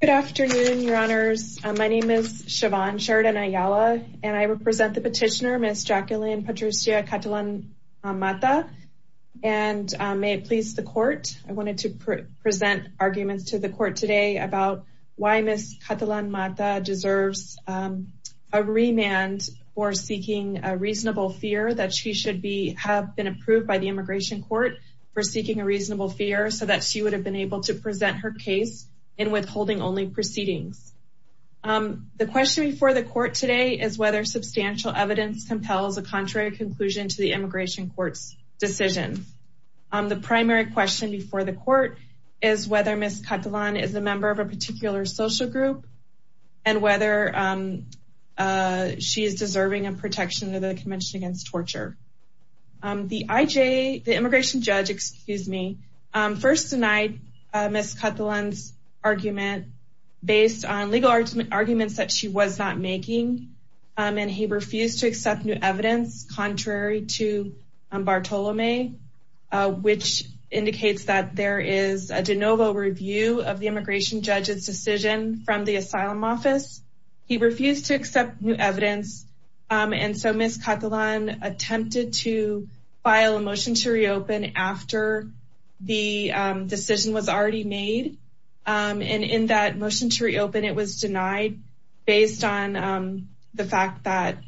Good afternoon, your honors. My name is Siobhan Sheridan-Ayala and I represent the petitioner Ms. Jacqueline Patricia Catalan-Matta and may it please the court, I wanted to present arguments to the court today about why Ms. Catalan-Matta deserves a remand for seeking a reasonable fear that she should be have been approved by the immigration court for seeking a reasonable fear so that she would have been able to present her case in withholding only proceedings. The question before the court today is whether substantial evidence compels a contrary conclusion to the immigration court's decision. The primary question before the court is whether Ms. Catalan-Matta is a member of a particular social group and whether she is deserving of denied Ms. Catalan's argument based on legal arguments that she was not making and he refused to accept new evidence contrary to Bartolome which indicates that there is a de novo review of the immigration judge's decision from the asylum office. He refused to accept new evidence and so Ms. Catalan attempted to file a motion to reopen after the decision was already made and in that motion to reopen it was denied based on the fact that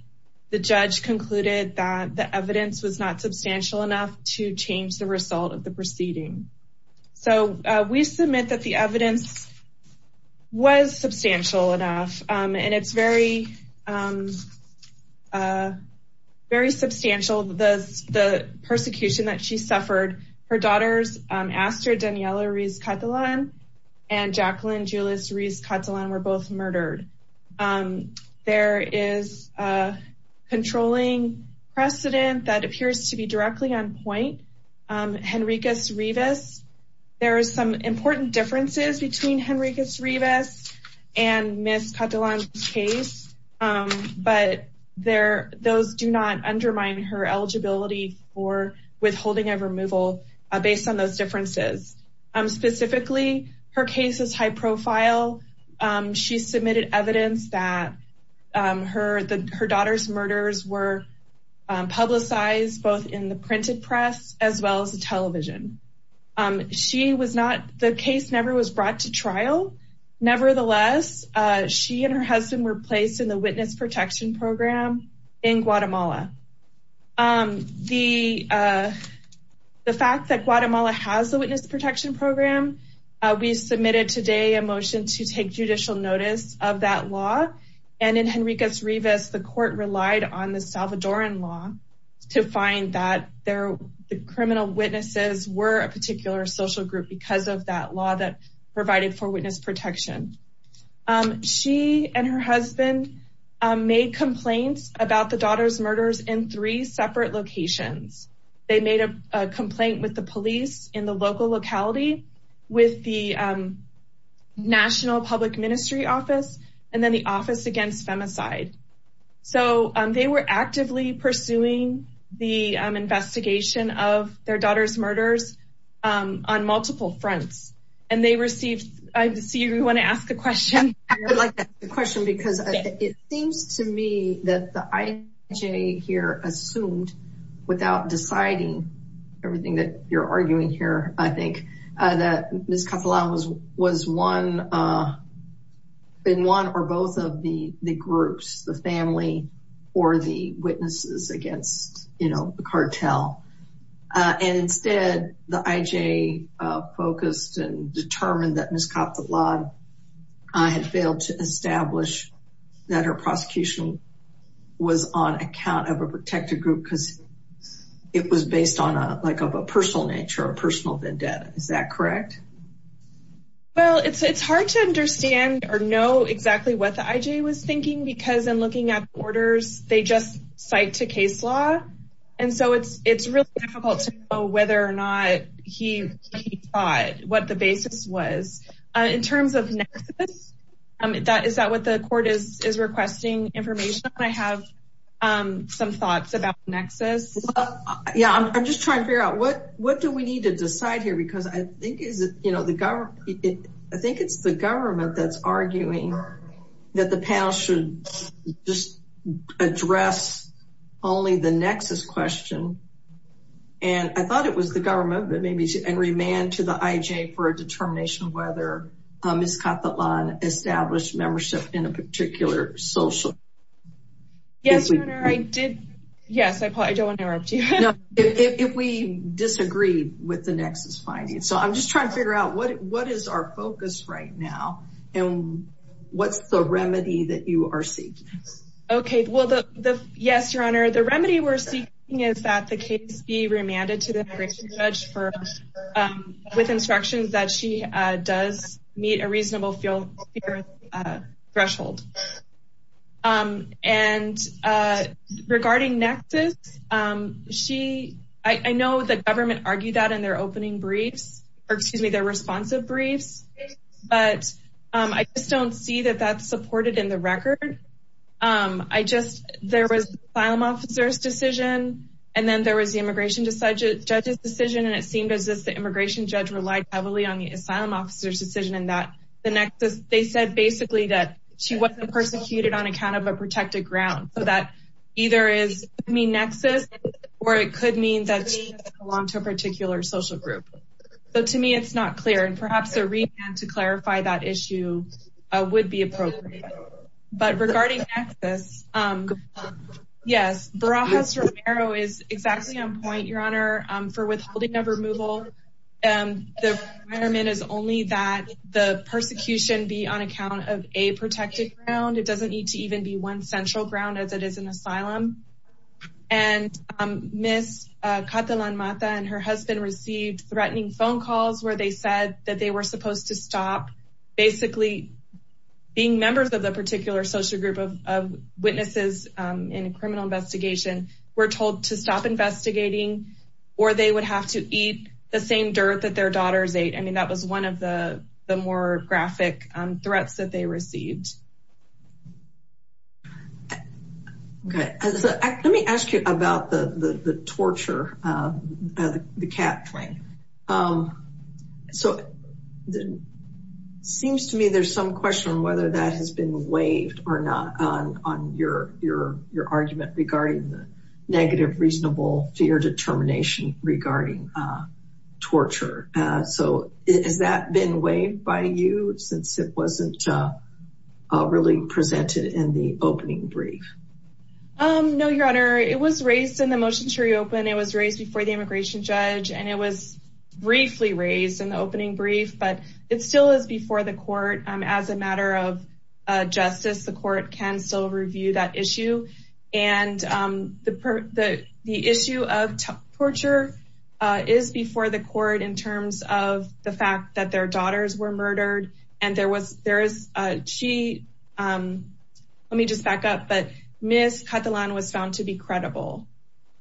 the judge concluded that the evidence was not substantial enough to change the result of the proceeding. So we submit that the evidence was substantial enough and it's very substantial the persecution that she suffered her daughters Astrid Daniela Riz Catalan and Jacqueline Julius Riz Catalan were both murdered. There is a controlling precedent that appears to be directly on point. Henriquez Rivas there are some important differences between Henriquez Rivas and Ms. Catalan's case but there those do not undermine her eligibility for withholding of removal based on those differences. Specifically her case is high profile. She submitted evidence that her the her daughter's murders were publicized both in the printed press as well as the television. She was not the case never was brought to trial nevertheless she and her husband were placed in the witness protection program in Guatemala. The fact that Guatemala has the law and in Henriquez Rivas the court relied on the Salvadoran law to find that their the criminal witnesses were a particular social group because of that law that provided for witness protection. She and her husband made complaints about the daughter's murders in three separate locations. They made a complaint with the police in the local locality with the national public ministry office and then the office against femicide. So they were actively pursuing the investigation of their daughter's murders on multiple fronts and they received I see you want to ask a question. I would like to ask a question because it seems to me that the IJ here assumed without deciding everything that you're arguing here I think that Ms. Catalan was was one in one or both of the the groups the family or the witnesses against you know the cartel and instead the IJ focused and determined that Ms. Catalan had failed to establish that her prosecution was on account of a protected group because it was based on a like of a personal nature a personal vendetta is that correct? Well it's it's hard to understand or know exactly what the IJ was thinking because in looking at the orders they just cite to case law and so it's it's really difficult to know whether or not he he thought what the basis was. In terms of nexus that is that what the court is is requesting information I have some thoughts about nexus. Yeah I'm just trying to figure out what what do need to decide here because I think is it you know the government I think it's the government that's arguing that the panel should just address only the nexus question and I thought it was the government but maybe and remand to the IJ for a determination whether Ms. Catalan established with the nexus finding so I'm just trying to figure out what what is our focus right now and what's the remedy that you are seeking? Okay well the the yes your honor the remedy we're seeking is that the case be remanded to the immigration judge for um with instructions that she uh does meet a reasonable feel uh threshold um and uh regarding nexus um she I know the briefs or excuse me their responsive briefs but um I just don't see that that's supported in the record um I just there was asylum officer's decision and then there was the immigration judge's decision and it seemed as if the immigration judge relied heavily on the asylum officer's decision and that the nexus they said basically that she wasn't persecuted on account of a protected ground so that either is I mean nexus or it could mean that she belonged to a social group so to me it's not clear and perhaps a remand to clarify that issue would be appropriate but regarding nexus um yes Barajas Romero is exactly on point your honor for withholding of removal and the requirement is only that the persecution be on account of a protected ground it doesn't need to even be one central ground as it is an asylum and um miss uh Katalan Mata and her husband received threatening phone calls where they said that they were supposed to stop basically being members of the particular social group of of witnesses um in a criminal investigation were told to stop investigating or they would have to eat the same dirt that their daughters ate I mean that was one of the the more graphic um threats that they received okay so let me ask you about the the torture uh the cat fling um so seems to me there's some question on whether that has been waived or not on on your your your argument regarding the negative reasonable fear determination regarding uh torture uh so has that been waived by you since it wasn't uh uh really presented in the opening brief um no your honor it was raised in the motion to reopen it was raised before the immigration judge and it was briefly raised in the opening brief but it still is before the court um as a matter of justice the court can still review that issue and um the the the issue of torture uh is before the court in terms of the fact that their daughters were murdered and there was there is uh she um let me just back up but miss katalan was found to be credible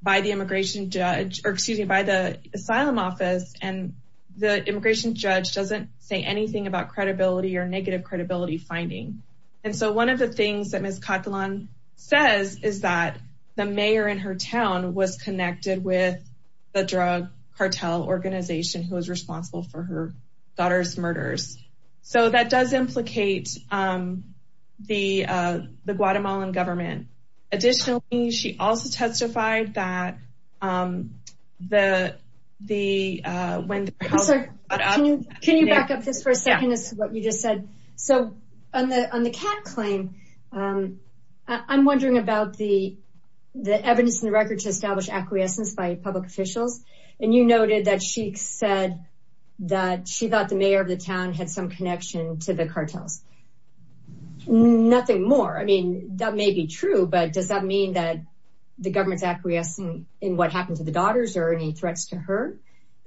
by the immigration judge or excuse me by the asylum office and the immigration judge doesn't say anything about credibility or negative credibility finding and so one of the things that miss katalan says is that the mayor in her town was connected with the drug cartel organization who was responsible for her daughter's murders so that does implicate um the uh the guatemalan government additionally she also testified that um the the uh when can you back up this for a second is what you just said so on the on the cat claim um i'm wondering about the the evidence in the record to establish acquiescence by public officials and you noted that she said that she thought the mayor of the town had some connection to the cartels nothing more i mean that may be true but does that mean that the government's acquiescing in what happened to the daughters or any threats to her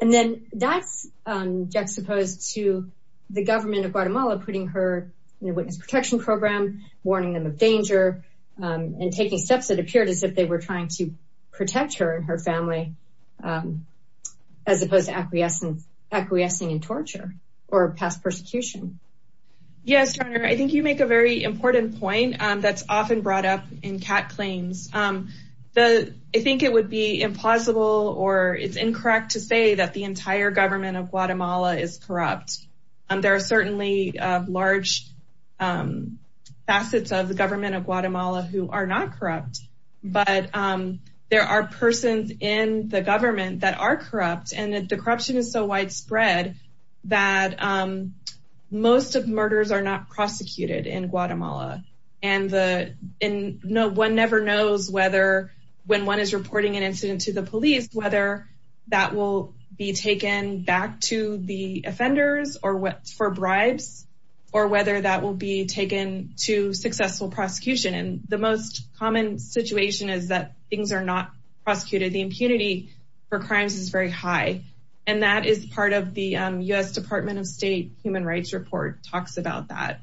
and then that's um juxtaposed to the government of guatemala putting her in a witness protection program warning them of danger and taking steps that appeared as if they were trying to protect her and her family as opposed to acquiescence acquiescing in torture or past persecution yes jr i think you make a very important point um that's often brought up in cat claims um the i think it would be impossible or it's incorrect to say that the entire government of guatemala is corrupt and there are certainly large facets of the government of guatemala who are not corrupt but um there are persons in the government that are corrupt and the corruption is so widespread that um most of murders are not prosecuted in guatemala and the no one never knows whether when one is reporting an incident to the police whether that will be taken back to the offenders or what for bribes or whether that will be taken to successful prosecution and the most common situation is that things are not prosecuted the impunity for crimes is very high and that is part of the u.s department of state human about that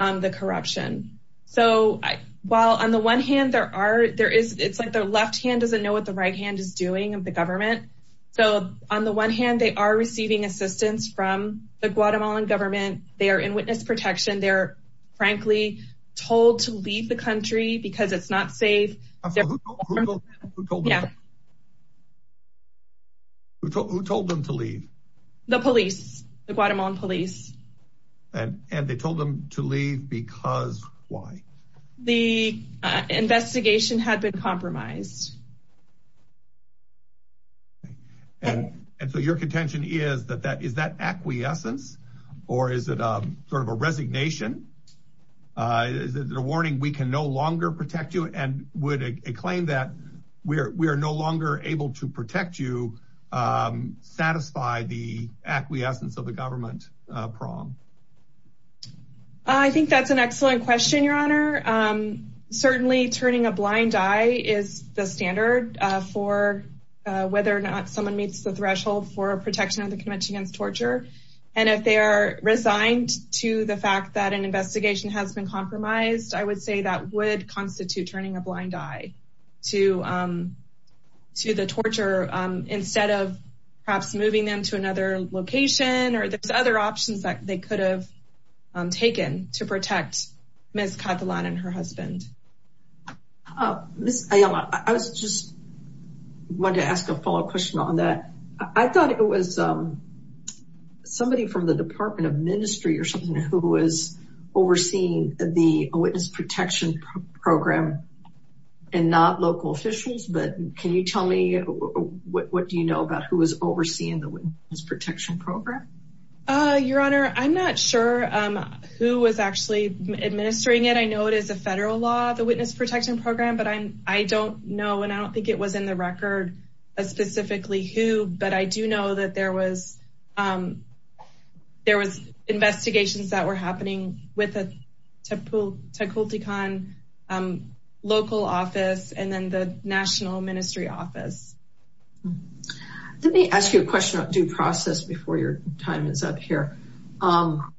um the corruption so while on the one hand there are there is it's like the left hand doesn't know what the right hand is doing of the government so on the one hand they are receiving assistance from the guatemalan government they are in witness protection they're frankly told to leave the country because it's not safe who told them to leave the police the guatemalan police and and they told them to leave because why the investigation had been compromised and and so your contention is that that is that acquiescence or is it a sort of a resignation uh is it a warning we can no longer protect you and would a claim that we are we are no longer able to protect you um satisfy the acquiescence of the government uh prom i think that's an excellent question your honor um certainly turning a blind eye is the standard uh for whether or not someone meets the threshold for protection of the convention against torture and if they are resigned to the fact that an investigation has been compromised i would say that would constitute turning a blind eye to um to the torture um instead of perhaps moving them to another location or there's other options that they could have taken to protect miss katalan and her husband uh miss ayala i was just wanted to ask a follow-up question on that i thought it was um somebody from the department of ministry or something who was overseeing the witness protection program and not local officials but can you tell me what do you know about who is overseeing the witness protection program uh your honor i'm not sure um who was actually administering it i know it is a federal law the witness protection program but i'm i don't know and i don't think it was in the record as specifically who but i do know that there was um there was investigations that were happening with a typical taquiltecan um local office and then the national ministry office let me ask you a question about due process before your time is up um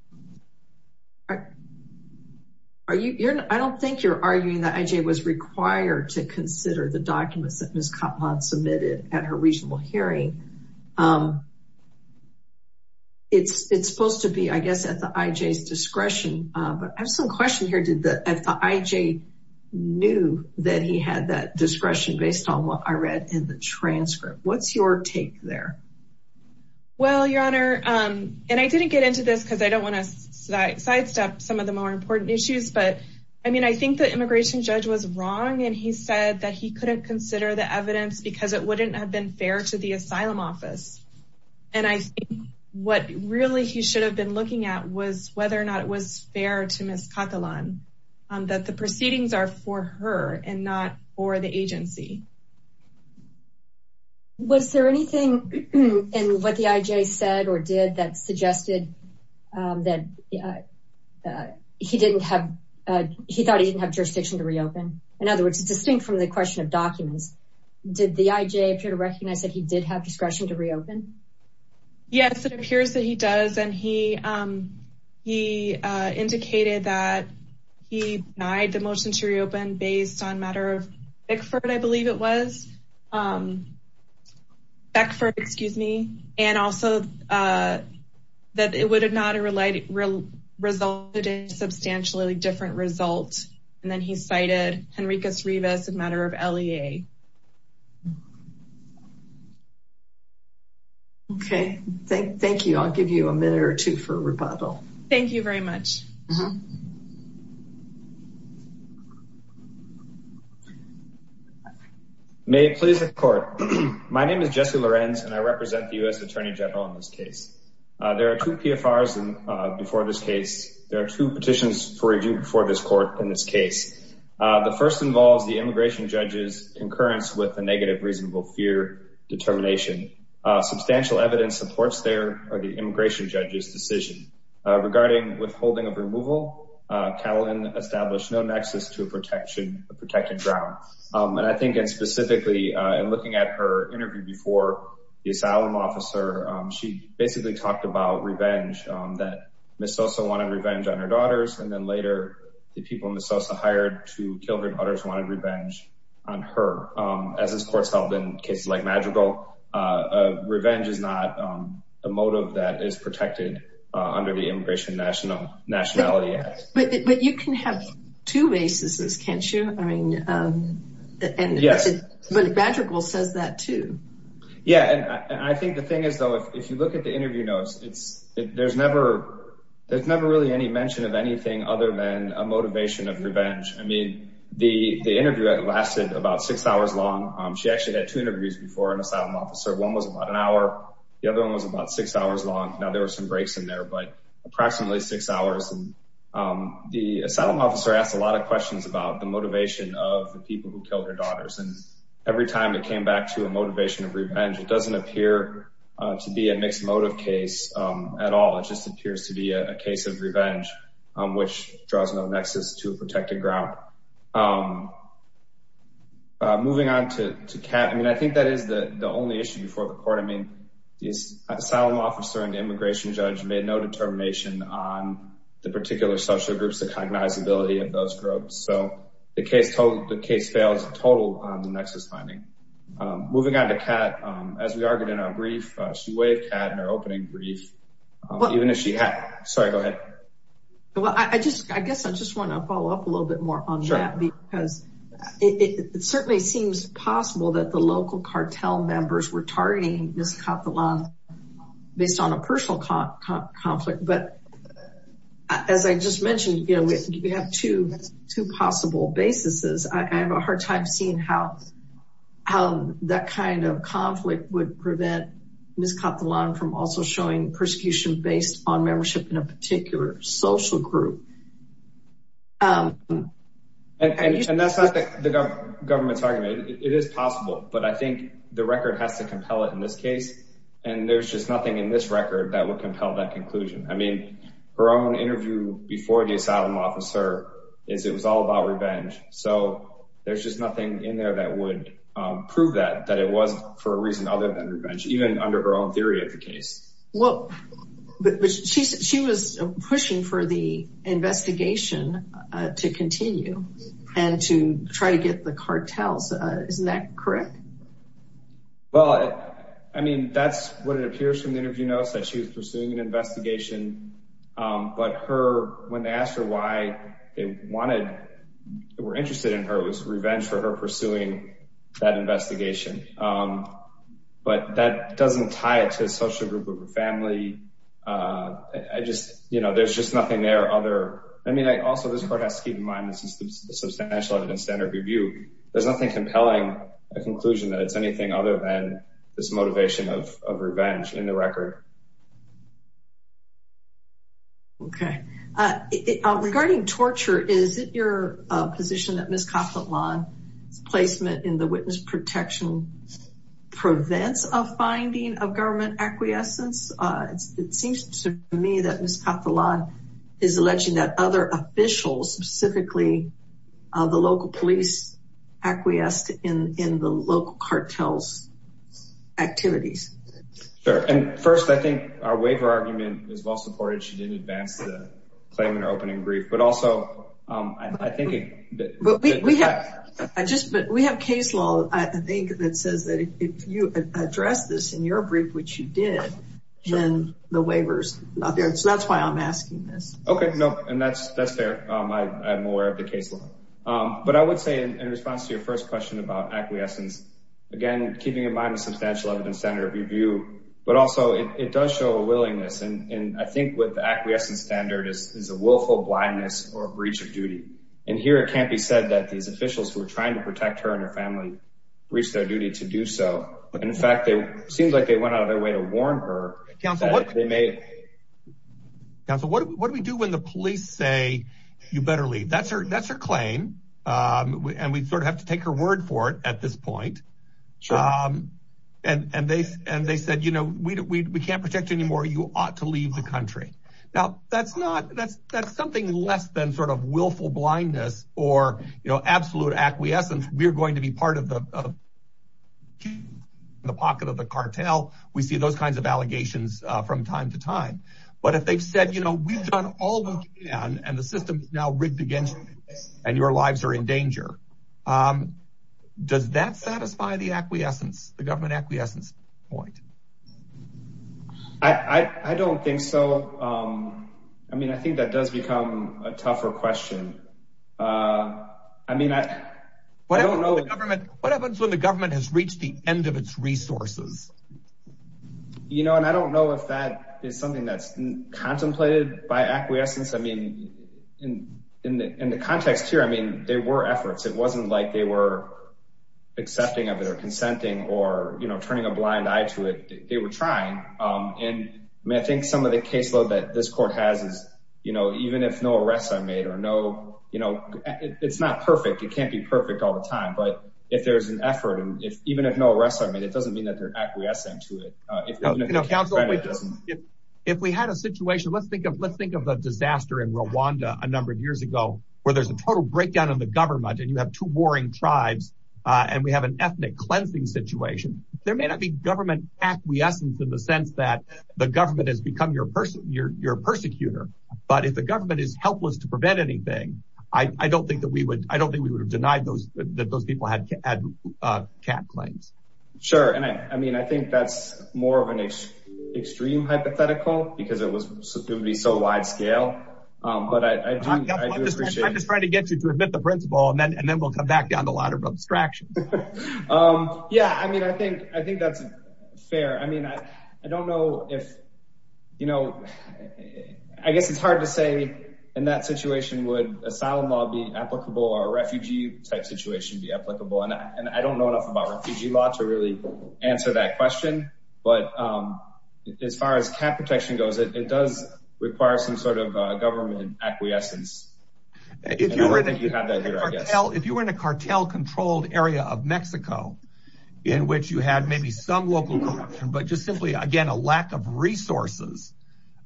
are you you're i don't think you're arguing that ij was required to consider the documents that miss katalan submitted at her regional hearing um it's it's supposed to be i guess at the ij's discretion uh but i have some question here did the ij knew that he had that discretion based on what i read in the transcript what's your take there well your honor um and i didn't get into this because i don't want to sidestep some of the more important issues but i mean i think the immigration judge was wrong and he said that he couldn't consider the evidence because it wouldn't have been fair to the asylum office and i think what really he should have been looking at was whether or not it was fair to miss katalan um that the proceedings are for her and not for the agency was there anything in what the ij said or did that suggested um that uh he didn't have uh he thought he didn't have jurisdiction to reopen in other words it's distinct from the question of documents did the ij appear to recognize that he did have discretion to reopen yes it appears that he does and he um he uh indicated that he denied the motion to reopen based on matter of bickford i believe it was um back for excuse me and also uh that it would have not relied resulted in substantially different results and then he cited henrikas as a matter of lea okay thank thank you i'll give you a minute or two for rebuttal thank you very much may it please the court my name is jesse lorenz and i represent the u.s attorney general in this case uh there are two pfrs and uh before this case there are two petitions for review before this court in this case uh the first involves the immigration judge's concurrence with the negative reasonable fear determination uh substantial evidence supports their or the immigration judge's decision uh regarding withholding of removal uh katelyn established no nexus to a protection a protected ground um and i think and specifically uh in looking at her interview before the asylum officer um she basically talked about revenge um that miss sosa wanted revenge on her daughters and then later the people miss sosa hired to kill her daughters wanted revenge on her um as this court's held in cases like magical uh revenge is not um the motive that is protected uh under the immigration national nationality act but you can have two races can't you i mean um and yes but magical says that too yeah and i think the there's never really any mention of anything other than a motivation of revenge i mean the the interview lasted about six hours long um she actually had two interviews before an asylum officer one was about an hour the other one was about six hours long now there were some breaks in there but approximately six hours and um the asylum officer asked a lot of questions about the motivation of the people who killed her daughters and every time it came back to a motivation of a case of revenge um which draws no nexus to a protected ground um moving on to to cat i mean i think that is the the only issue before the court i mean the asylum officer and immigration judge made no determination on the particular social groups the cognizability of those groups so the case told the case fails total on the nexus finding um moving on to cat um as we argued in brief she waved cat in her opening brief even if she had sorry go ahead well i just i guess i just want to follow up a little bit more on that because it certainly seems possible that the local cartel members were targeting miss kathalon based on a personal conflict but as i just mentioned you know we have two two possible basis i have a hard time seeing how how that kind of conflict would prevent miss kathalon from also showing persecution based on membership in a particular social group um and that's not the government's argument it is possible but i think the record has to compel it in this case and there's just nothing in this record that would compel that conclusion i mean her own interview before the asylum officer is it was all about revenge so there's just nothing in there that would prove that that it was for a reason other than revenge even under her own theory of the case well but she said she was pushing for the investigation to continue and to try to get the cartels uh isn't that correct well i mean that's what it appears from the interview notes that she was pursuing an we're interested in her it was revenge for her pursuing that investigation um but that doesn't tie it to a social group of her family uh i just you know there's just nothing there other i mean i also this part has to keep in mind this is the substantial evidence standard review there's nothing compelling a conclusion that it's anything other than this motivation of uh position that ms kaplan's placement in the witness protection prevents a finding of government acquiescence uh it seems to me that ms kaplan is alleging that other officials specifically uh the local police acquiesced in in the local cartels activities sure and first i think our waiver argument is well supported she didn't advance the claim in her opening brief but also um i think we have i just but we have case law i think that says that if you address this in your brief which you did then the waiver's not there so that's why i'm asking this okay nope and that's that's fair um i i'm aware of the case law um but i would say in response to your first question about acquiescence again keeping in mind the substantial evidence standard review but also it does show a willingness and and i think with the acquiescent standard is is a willful blindness or breach of duty and here it can't be said that these officials who are trying to protect her and her family reached their duty to do so and in fact they seemed like they went out of their way to warn her council what they made council what do we do when the police say you better leave that's her that's her claim um and we sort of have to take her word for it at this point um and and they and they said you know we we can't protect anymore you ought to leave the country now that's not that's that's something less than sort of willful blindness or you know absolute acquiescence we're going to be part of the the pocket of the cartel we see those kinds of allegations uh from time to time but if they've said you know we've done all we can and the system is now rigged against you and your lives are in i don't think so um i mean i think that does become a tougher question uh i mean i what i don't know what happens when the government has reached the end of its resources you know and i don't know if that is something that's contemplated by acquiescence i mean in in the in the context here i mean there were efforts it wasn't like they were accepting of it or consenting or you know turning a blind eye to it they were trying um and i think some of the caseload that this court has is you know even if no arrests are made or no you know it's not perfect it can't be perfect all the time but if there's an effort and if even if no arrests are made it doesn't mean that they're acquiescent to it uh if you know if we had a situation let's think of let's think of the disaster in rwanda a number of years ago where there's a total breakdown in the government and you have two warring tribes uh and we have an ethnic cleansing situation there may not be government acquiescence in the sense that the government has become your person you're you're a persecutor but if the government is helpless to prevent anything i i don't think that we would i don't think we would have denied those that those people had had uh cat claims sure and i i mean i think that's more of an extreme hypothetical because it was going to be so wide scale um but i i'm just trying to get you to admit the principle and then and then we'll come back down to a lot of abstraction um yeah i mean i if you know i guess it's hard to say in that situation would asylum law be applicable or refugee type situation be applicable and i and i don't know enough about refugee law to really answer that question but um as far as cat protection goes it does require some sort of government acquiescence if you were that you have that here i guess if you were in a cartel controlled area of mexico in which you had maybe some local corruption but just simply again a lack of resources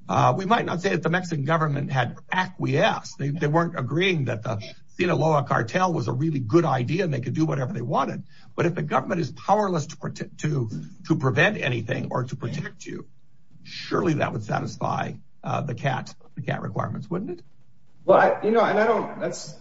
uh we might not say that the mexican government had acquiesced they weren't agreeing that the sinaloa cartel was a really good idea and they could do whatever they wanted but if the government is powerless to protect to to prevent anything or to protect you surely that would satisfy uh the cat the cat requirements wouldn't it well you know and i don't that's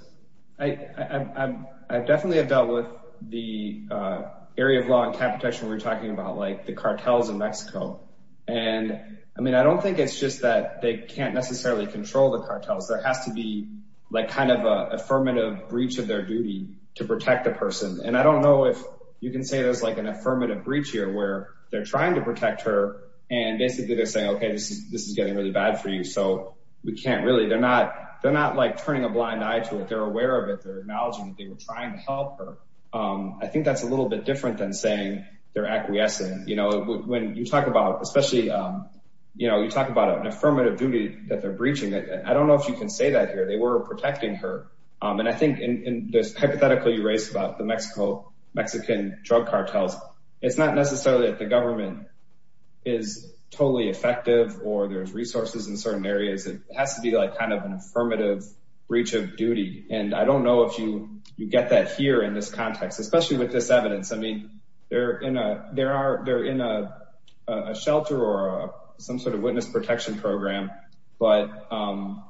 i i i definitely have dealt with the uh area of law and cat protection we're talking about like the cartels in mexico and i mean i don't think it's just that they can't necessarily control the cartels there has to be like kind of a affirmative breach of their duty to protect the person and i don't know if you can say there's like an affirmative breach here where they're trying to protect her and basically they're saying okay this is this is getting really bad for you so we can't really they're not they're not like turning a blind eye to it they're aware of it they're acknowledging that they were trying to help her um i think that's a little bit different than saying they're you talk about especially um you know you talk about an affirmative duty that they're breaching it i don't know if you can say that here they were protecting her um and i think in this hypothetical you raised about the mexico mexican drug cartels it's not necessarily that the government is totally effective or there's resources in certain areas it has to be like kind of an affirmative breach of duty and i don't know if you you get that here in this context especially with this evidence i mean they're in a there are they're in a shelter or some sort of witness protection program but um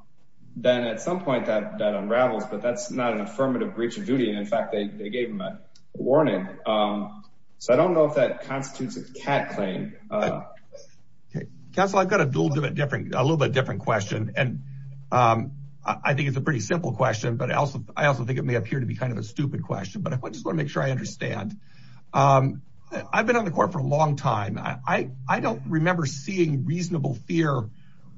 then at some point that that unravels but that's not an affirmative breach of duty and in fact they gave them a warning um so i don't know if that constitutes a cat claim uh okay counsel i've got a dual different a little bit different question and um i think it's a pretty simple question but also i also think it may appear to be kind of a um i've been on the court for a long time i i don't remember seeing reasonable fear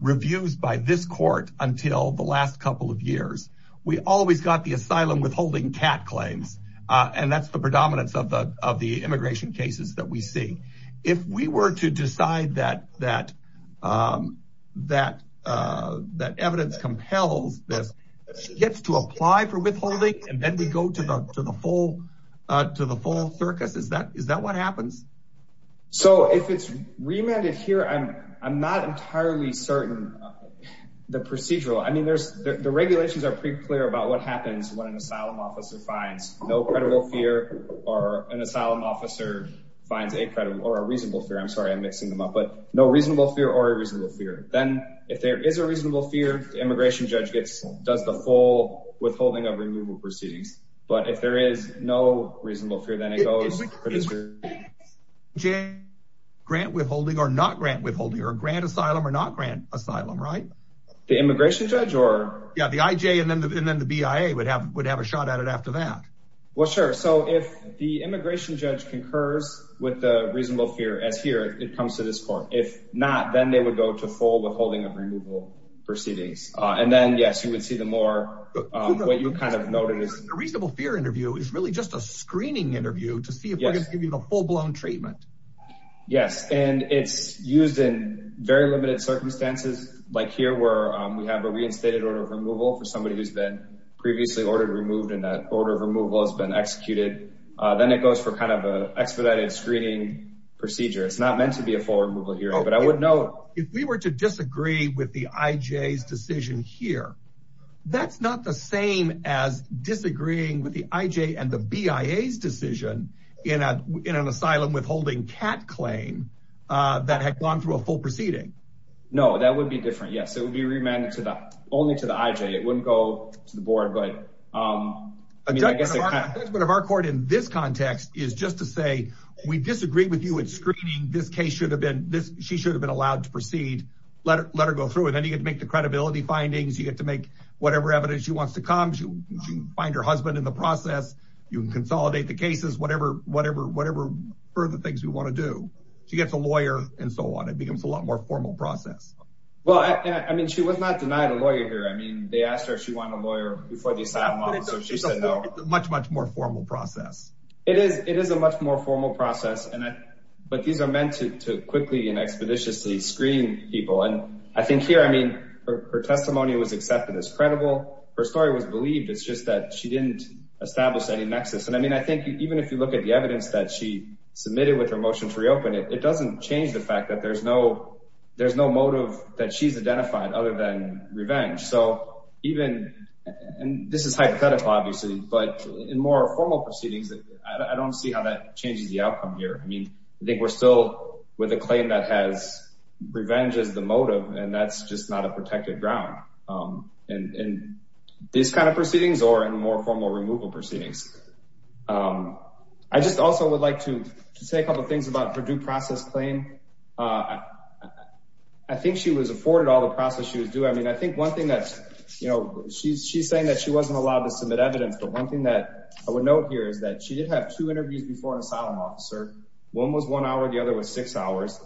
reviews by this court until the last couple of years we always got the asylum withholding cat claims uh and that's the predominance of the of the immigration cases that we see if we were to decide that that um that uh that evidence compels this gets to apply for withholding and then we go to the full uh to the full circus is that is that what happens so if it's remanded here i'm i'm not entirely certain the procedural i mean there's the regulations are pretty clear about what happens when an asylum officer finds no credible fear or an asylum officer finds a credible or a reasonable fear i'm sorry i'm mixing them up but no reasonable fear or a reasonable fear then if there is a but if there is no reasonable fear then it goes grant withholding or not grant withholding or grant asylum or not grant asylum right the immigration judge or yeah the ij and then the bia would have would have a shot at it after that well sure so if the immigration judge concurs with the reasonable fear as here it comes to this court if not then they would go to full withholding of removal proceedings uh and then yes you would see the more um what you kind of noted is a reasonable fear interview is really just a screening interview to see if we're going to give you the full-blown treatment yes and it's used in very limited circumstances like here where we have a reinstated order of removal for somebody who's been previously ordered removed and that order of removal has been executed uh then it goes for kind of a expedited screening procedure it's not meant to be a full but i would note if we were to disagree with the ij's decision here that's not the same as disagreeing with the ij and the bia's decision in a in an asylum withholding cat claim uh that had gone through a full proceeding no that would be different yes it would be remanded to the only to the ij it wouldn't go to the board but um i mean i guess the judgment of our court in this she should have been allowed to proceed let her let her go through and then you get to make the credibility findings you get to make whatever evidence she wants to come she can find her husband in the process you can consolidate the cases whatever whatever whatever further things we want to do she gets a lawyer and so on it becomes a lot more formal process well i i mean she was not denied a lawyer here i mean they asked her if she wanted a lawyer before the asylum so she said no much much more formal process it is it is a much more formal process and i but these are to quickly and expeditiously screen people and i think here i mean her testimony was accepted as credible her story was believed it's just that she didn't establish any nexus and i mean i think even if you look at the evidence that she submitted with her motion to reopen it it doesn't change the fact that there's no there's no motive that she's identified other than revenge so even and this is hypothetical obviously but in more formal proceedings i don't see how that changes the outcome here i mean i think we're still with a claim that has revenge as the motive and that's just not a protected ground um and and these kind of proceedings or in more formal removal proceedings um i just also would like to say a couple things about her due process claim i think she was afforded all the process she was doing i mean i think one thing that you know she's she's saying that she wasn't allowed to submit evidence but one thing that i would note here is that she did have two interviews before an asylum officer one was one hour the other was six hours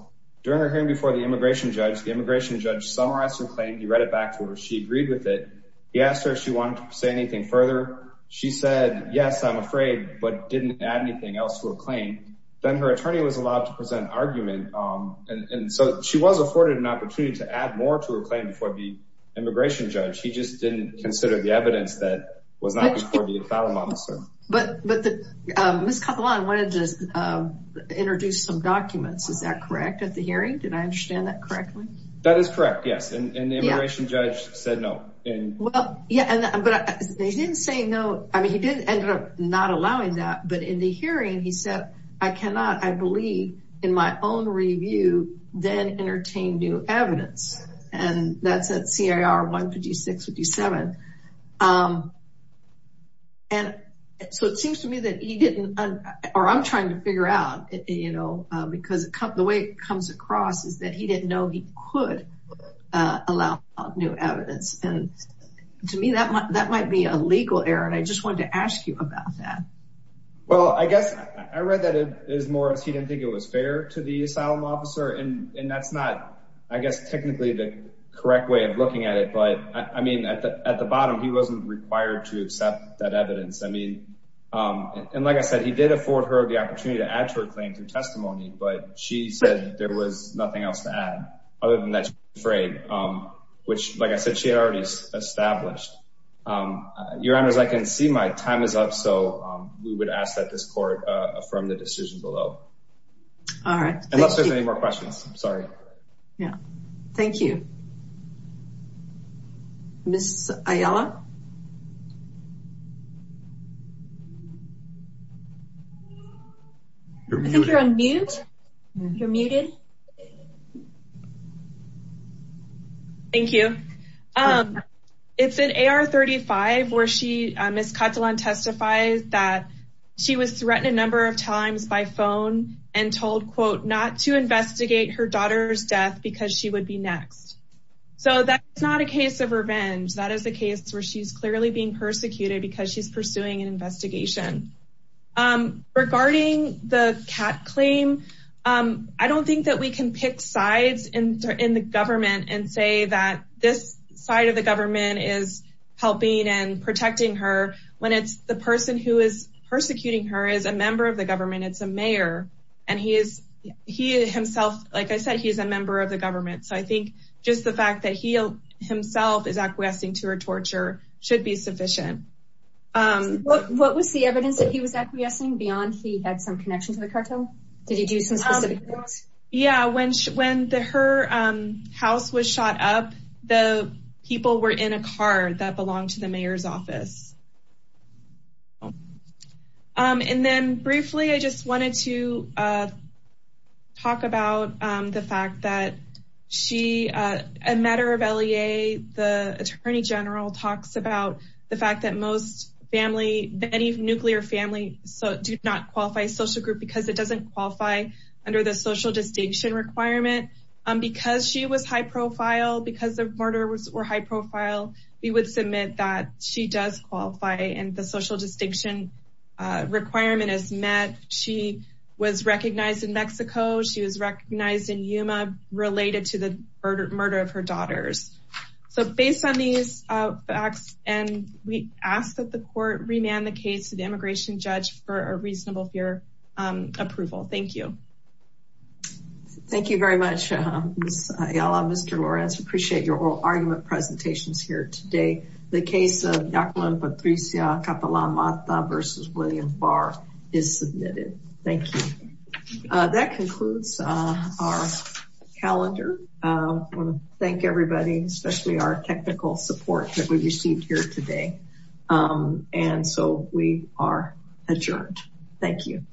during her hearing before the immigration judge the immigration judge summarized her claim he read it back to her she agreed with it he asked her if she wanted to say anything further she said yes i'm afraid but didn't add anything else to her claim then her attorney was allowed to present argument um and and so she was afforded an opportunity to add more to her claim before the immigration judge he just didn't consider the evidence that was not before the asylum officer but but the um miss kapalan wanted to um introduce some documents is that correct at the hearing did i understand that correctly that is correct yes and and the immigration judge said no and well yeah and but he didn't say no i mean he didn't end up not allowing that but in the hearing he said i cannot i believe in my own review then entertain new evidence and that's at car 156 57 um and so it seems to me that he didn't or i'm trying to figure out you know because the way it comes across is that he didn't know he could uh allow new evidence and to me that that might be a legal error and i just wanted to ask you about that well i guess i read that as more as he didn't think it was fair to the asylum officer and and that's not i guess technically the correct way of looking at it but i mean at the at the bottom he wasn't required to accept that evidence i mean um and like i said he did afford her the opportunity to add to her claim through testimony but she said there was nothing else to add other than that she was afraid um which like i said she had already established um your honors i can see my time is up so um we would ask that this court uh affirm the decision below all right unless there's any more questions i'm sorry yeah thank you miss aiella i think you're on mute you're muted thank you um it's an ar35 where she miss katalan testifies that she was threatened a number of times by phone and told quote not to investigate her daughter's death because she would be next so that's not a case of revenge that is a case where she's clearly being persecuted because she's pursuing an investigation um regarding the cat claim um i don't think that we can pick sides in in the government and say that this side of the government is helping and protecting her when it's the person who is persecuting her is a member of the government it's a mayor and he is he himself like i said he's a member of the government so i think just the fact that he himself is acquiescing to her torture should be sufficient um what was the evidence that he was acquiescing beyond he had some connection to the cartel did he do some specific yeah when when the her um house was shot up the people were in a car that belonged to the mayor's office um and then briefly i just wanted to uh talk about um the fact that she uh a matter of lea the attorney general talks about the fact that most family any nuclear family so do not qualify social group because it doesn't qualify under the social distinction requirement um because she was high profile because the murder was or high profile we would submit that she does qualify and the social distinction uh requirement is met she was recognized in mexico she was recognized in yuma related to the murder of her daughters so based on these uh facts and we ask that the court remand the case to the immigration judge for a reasonable fear um approval thank you thank you very much miss ayala mr lorenz appreciate your oral argument presentations here today the case of dr patricia kapala mata versus william barr is submitted thank you uh that concludes uh our calendar i want to thank everybody especially our technical support that we received here today um and so we are adjourned thank you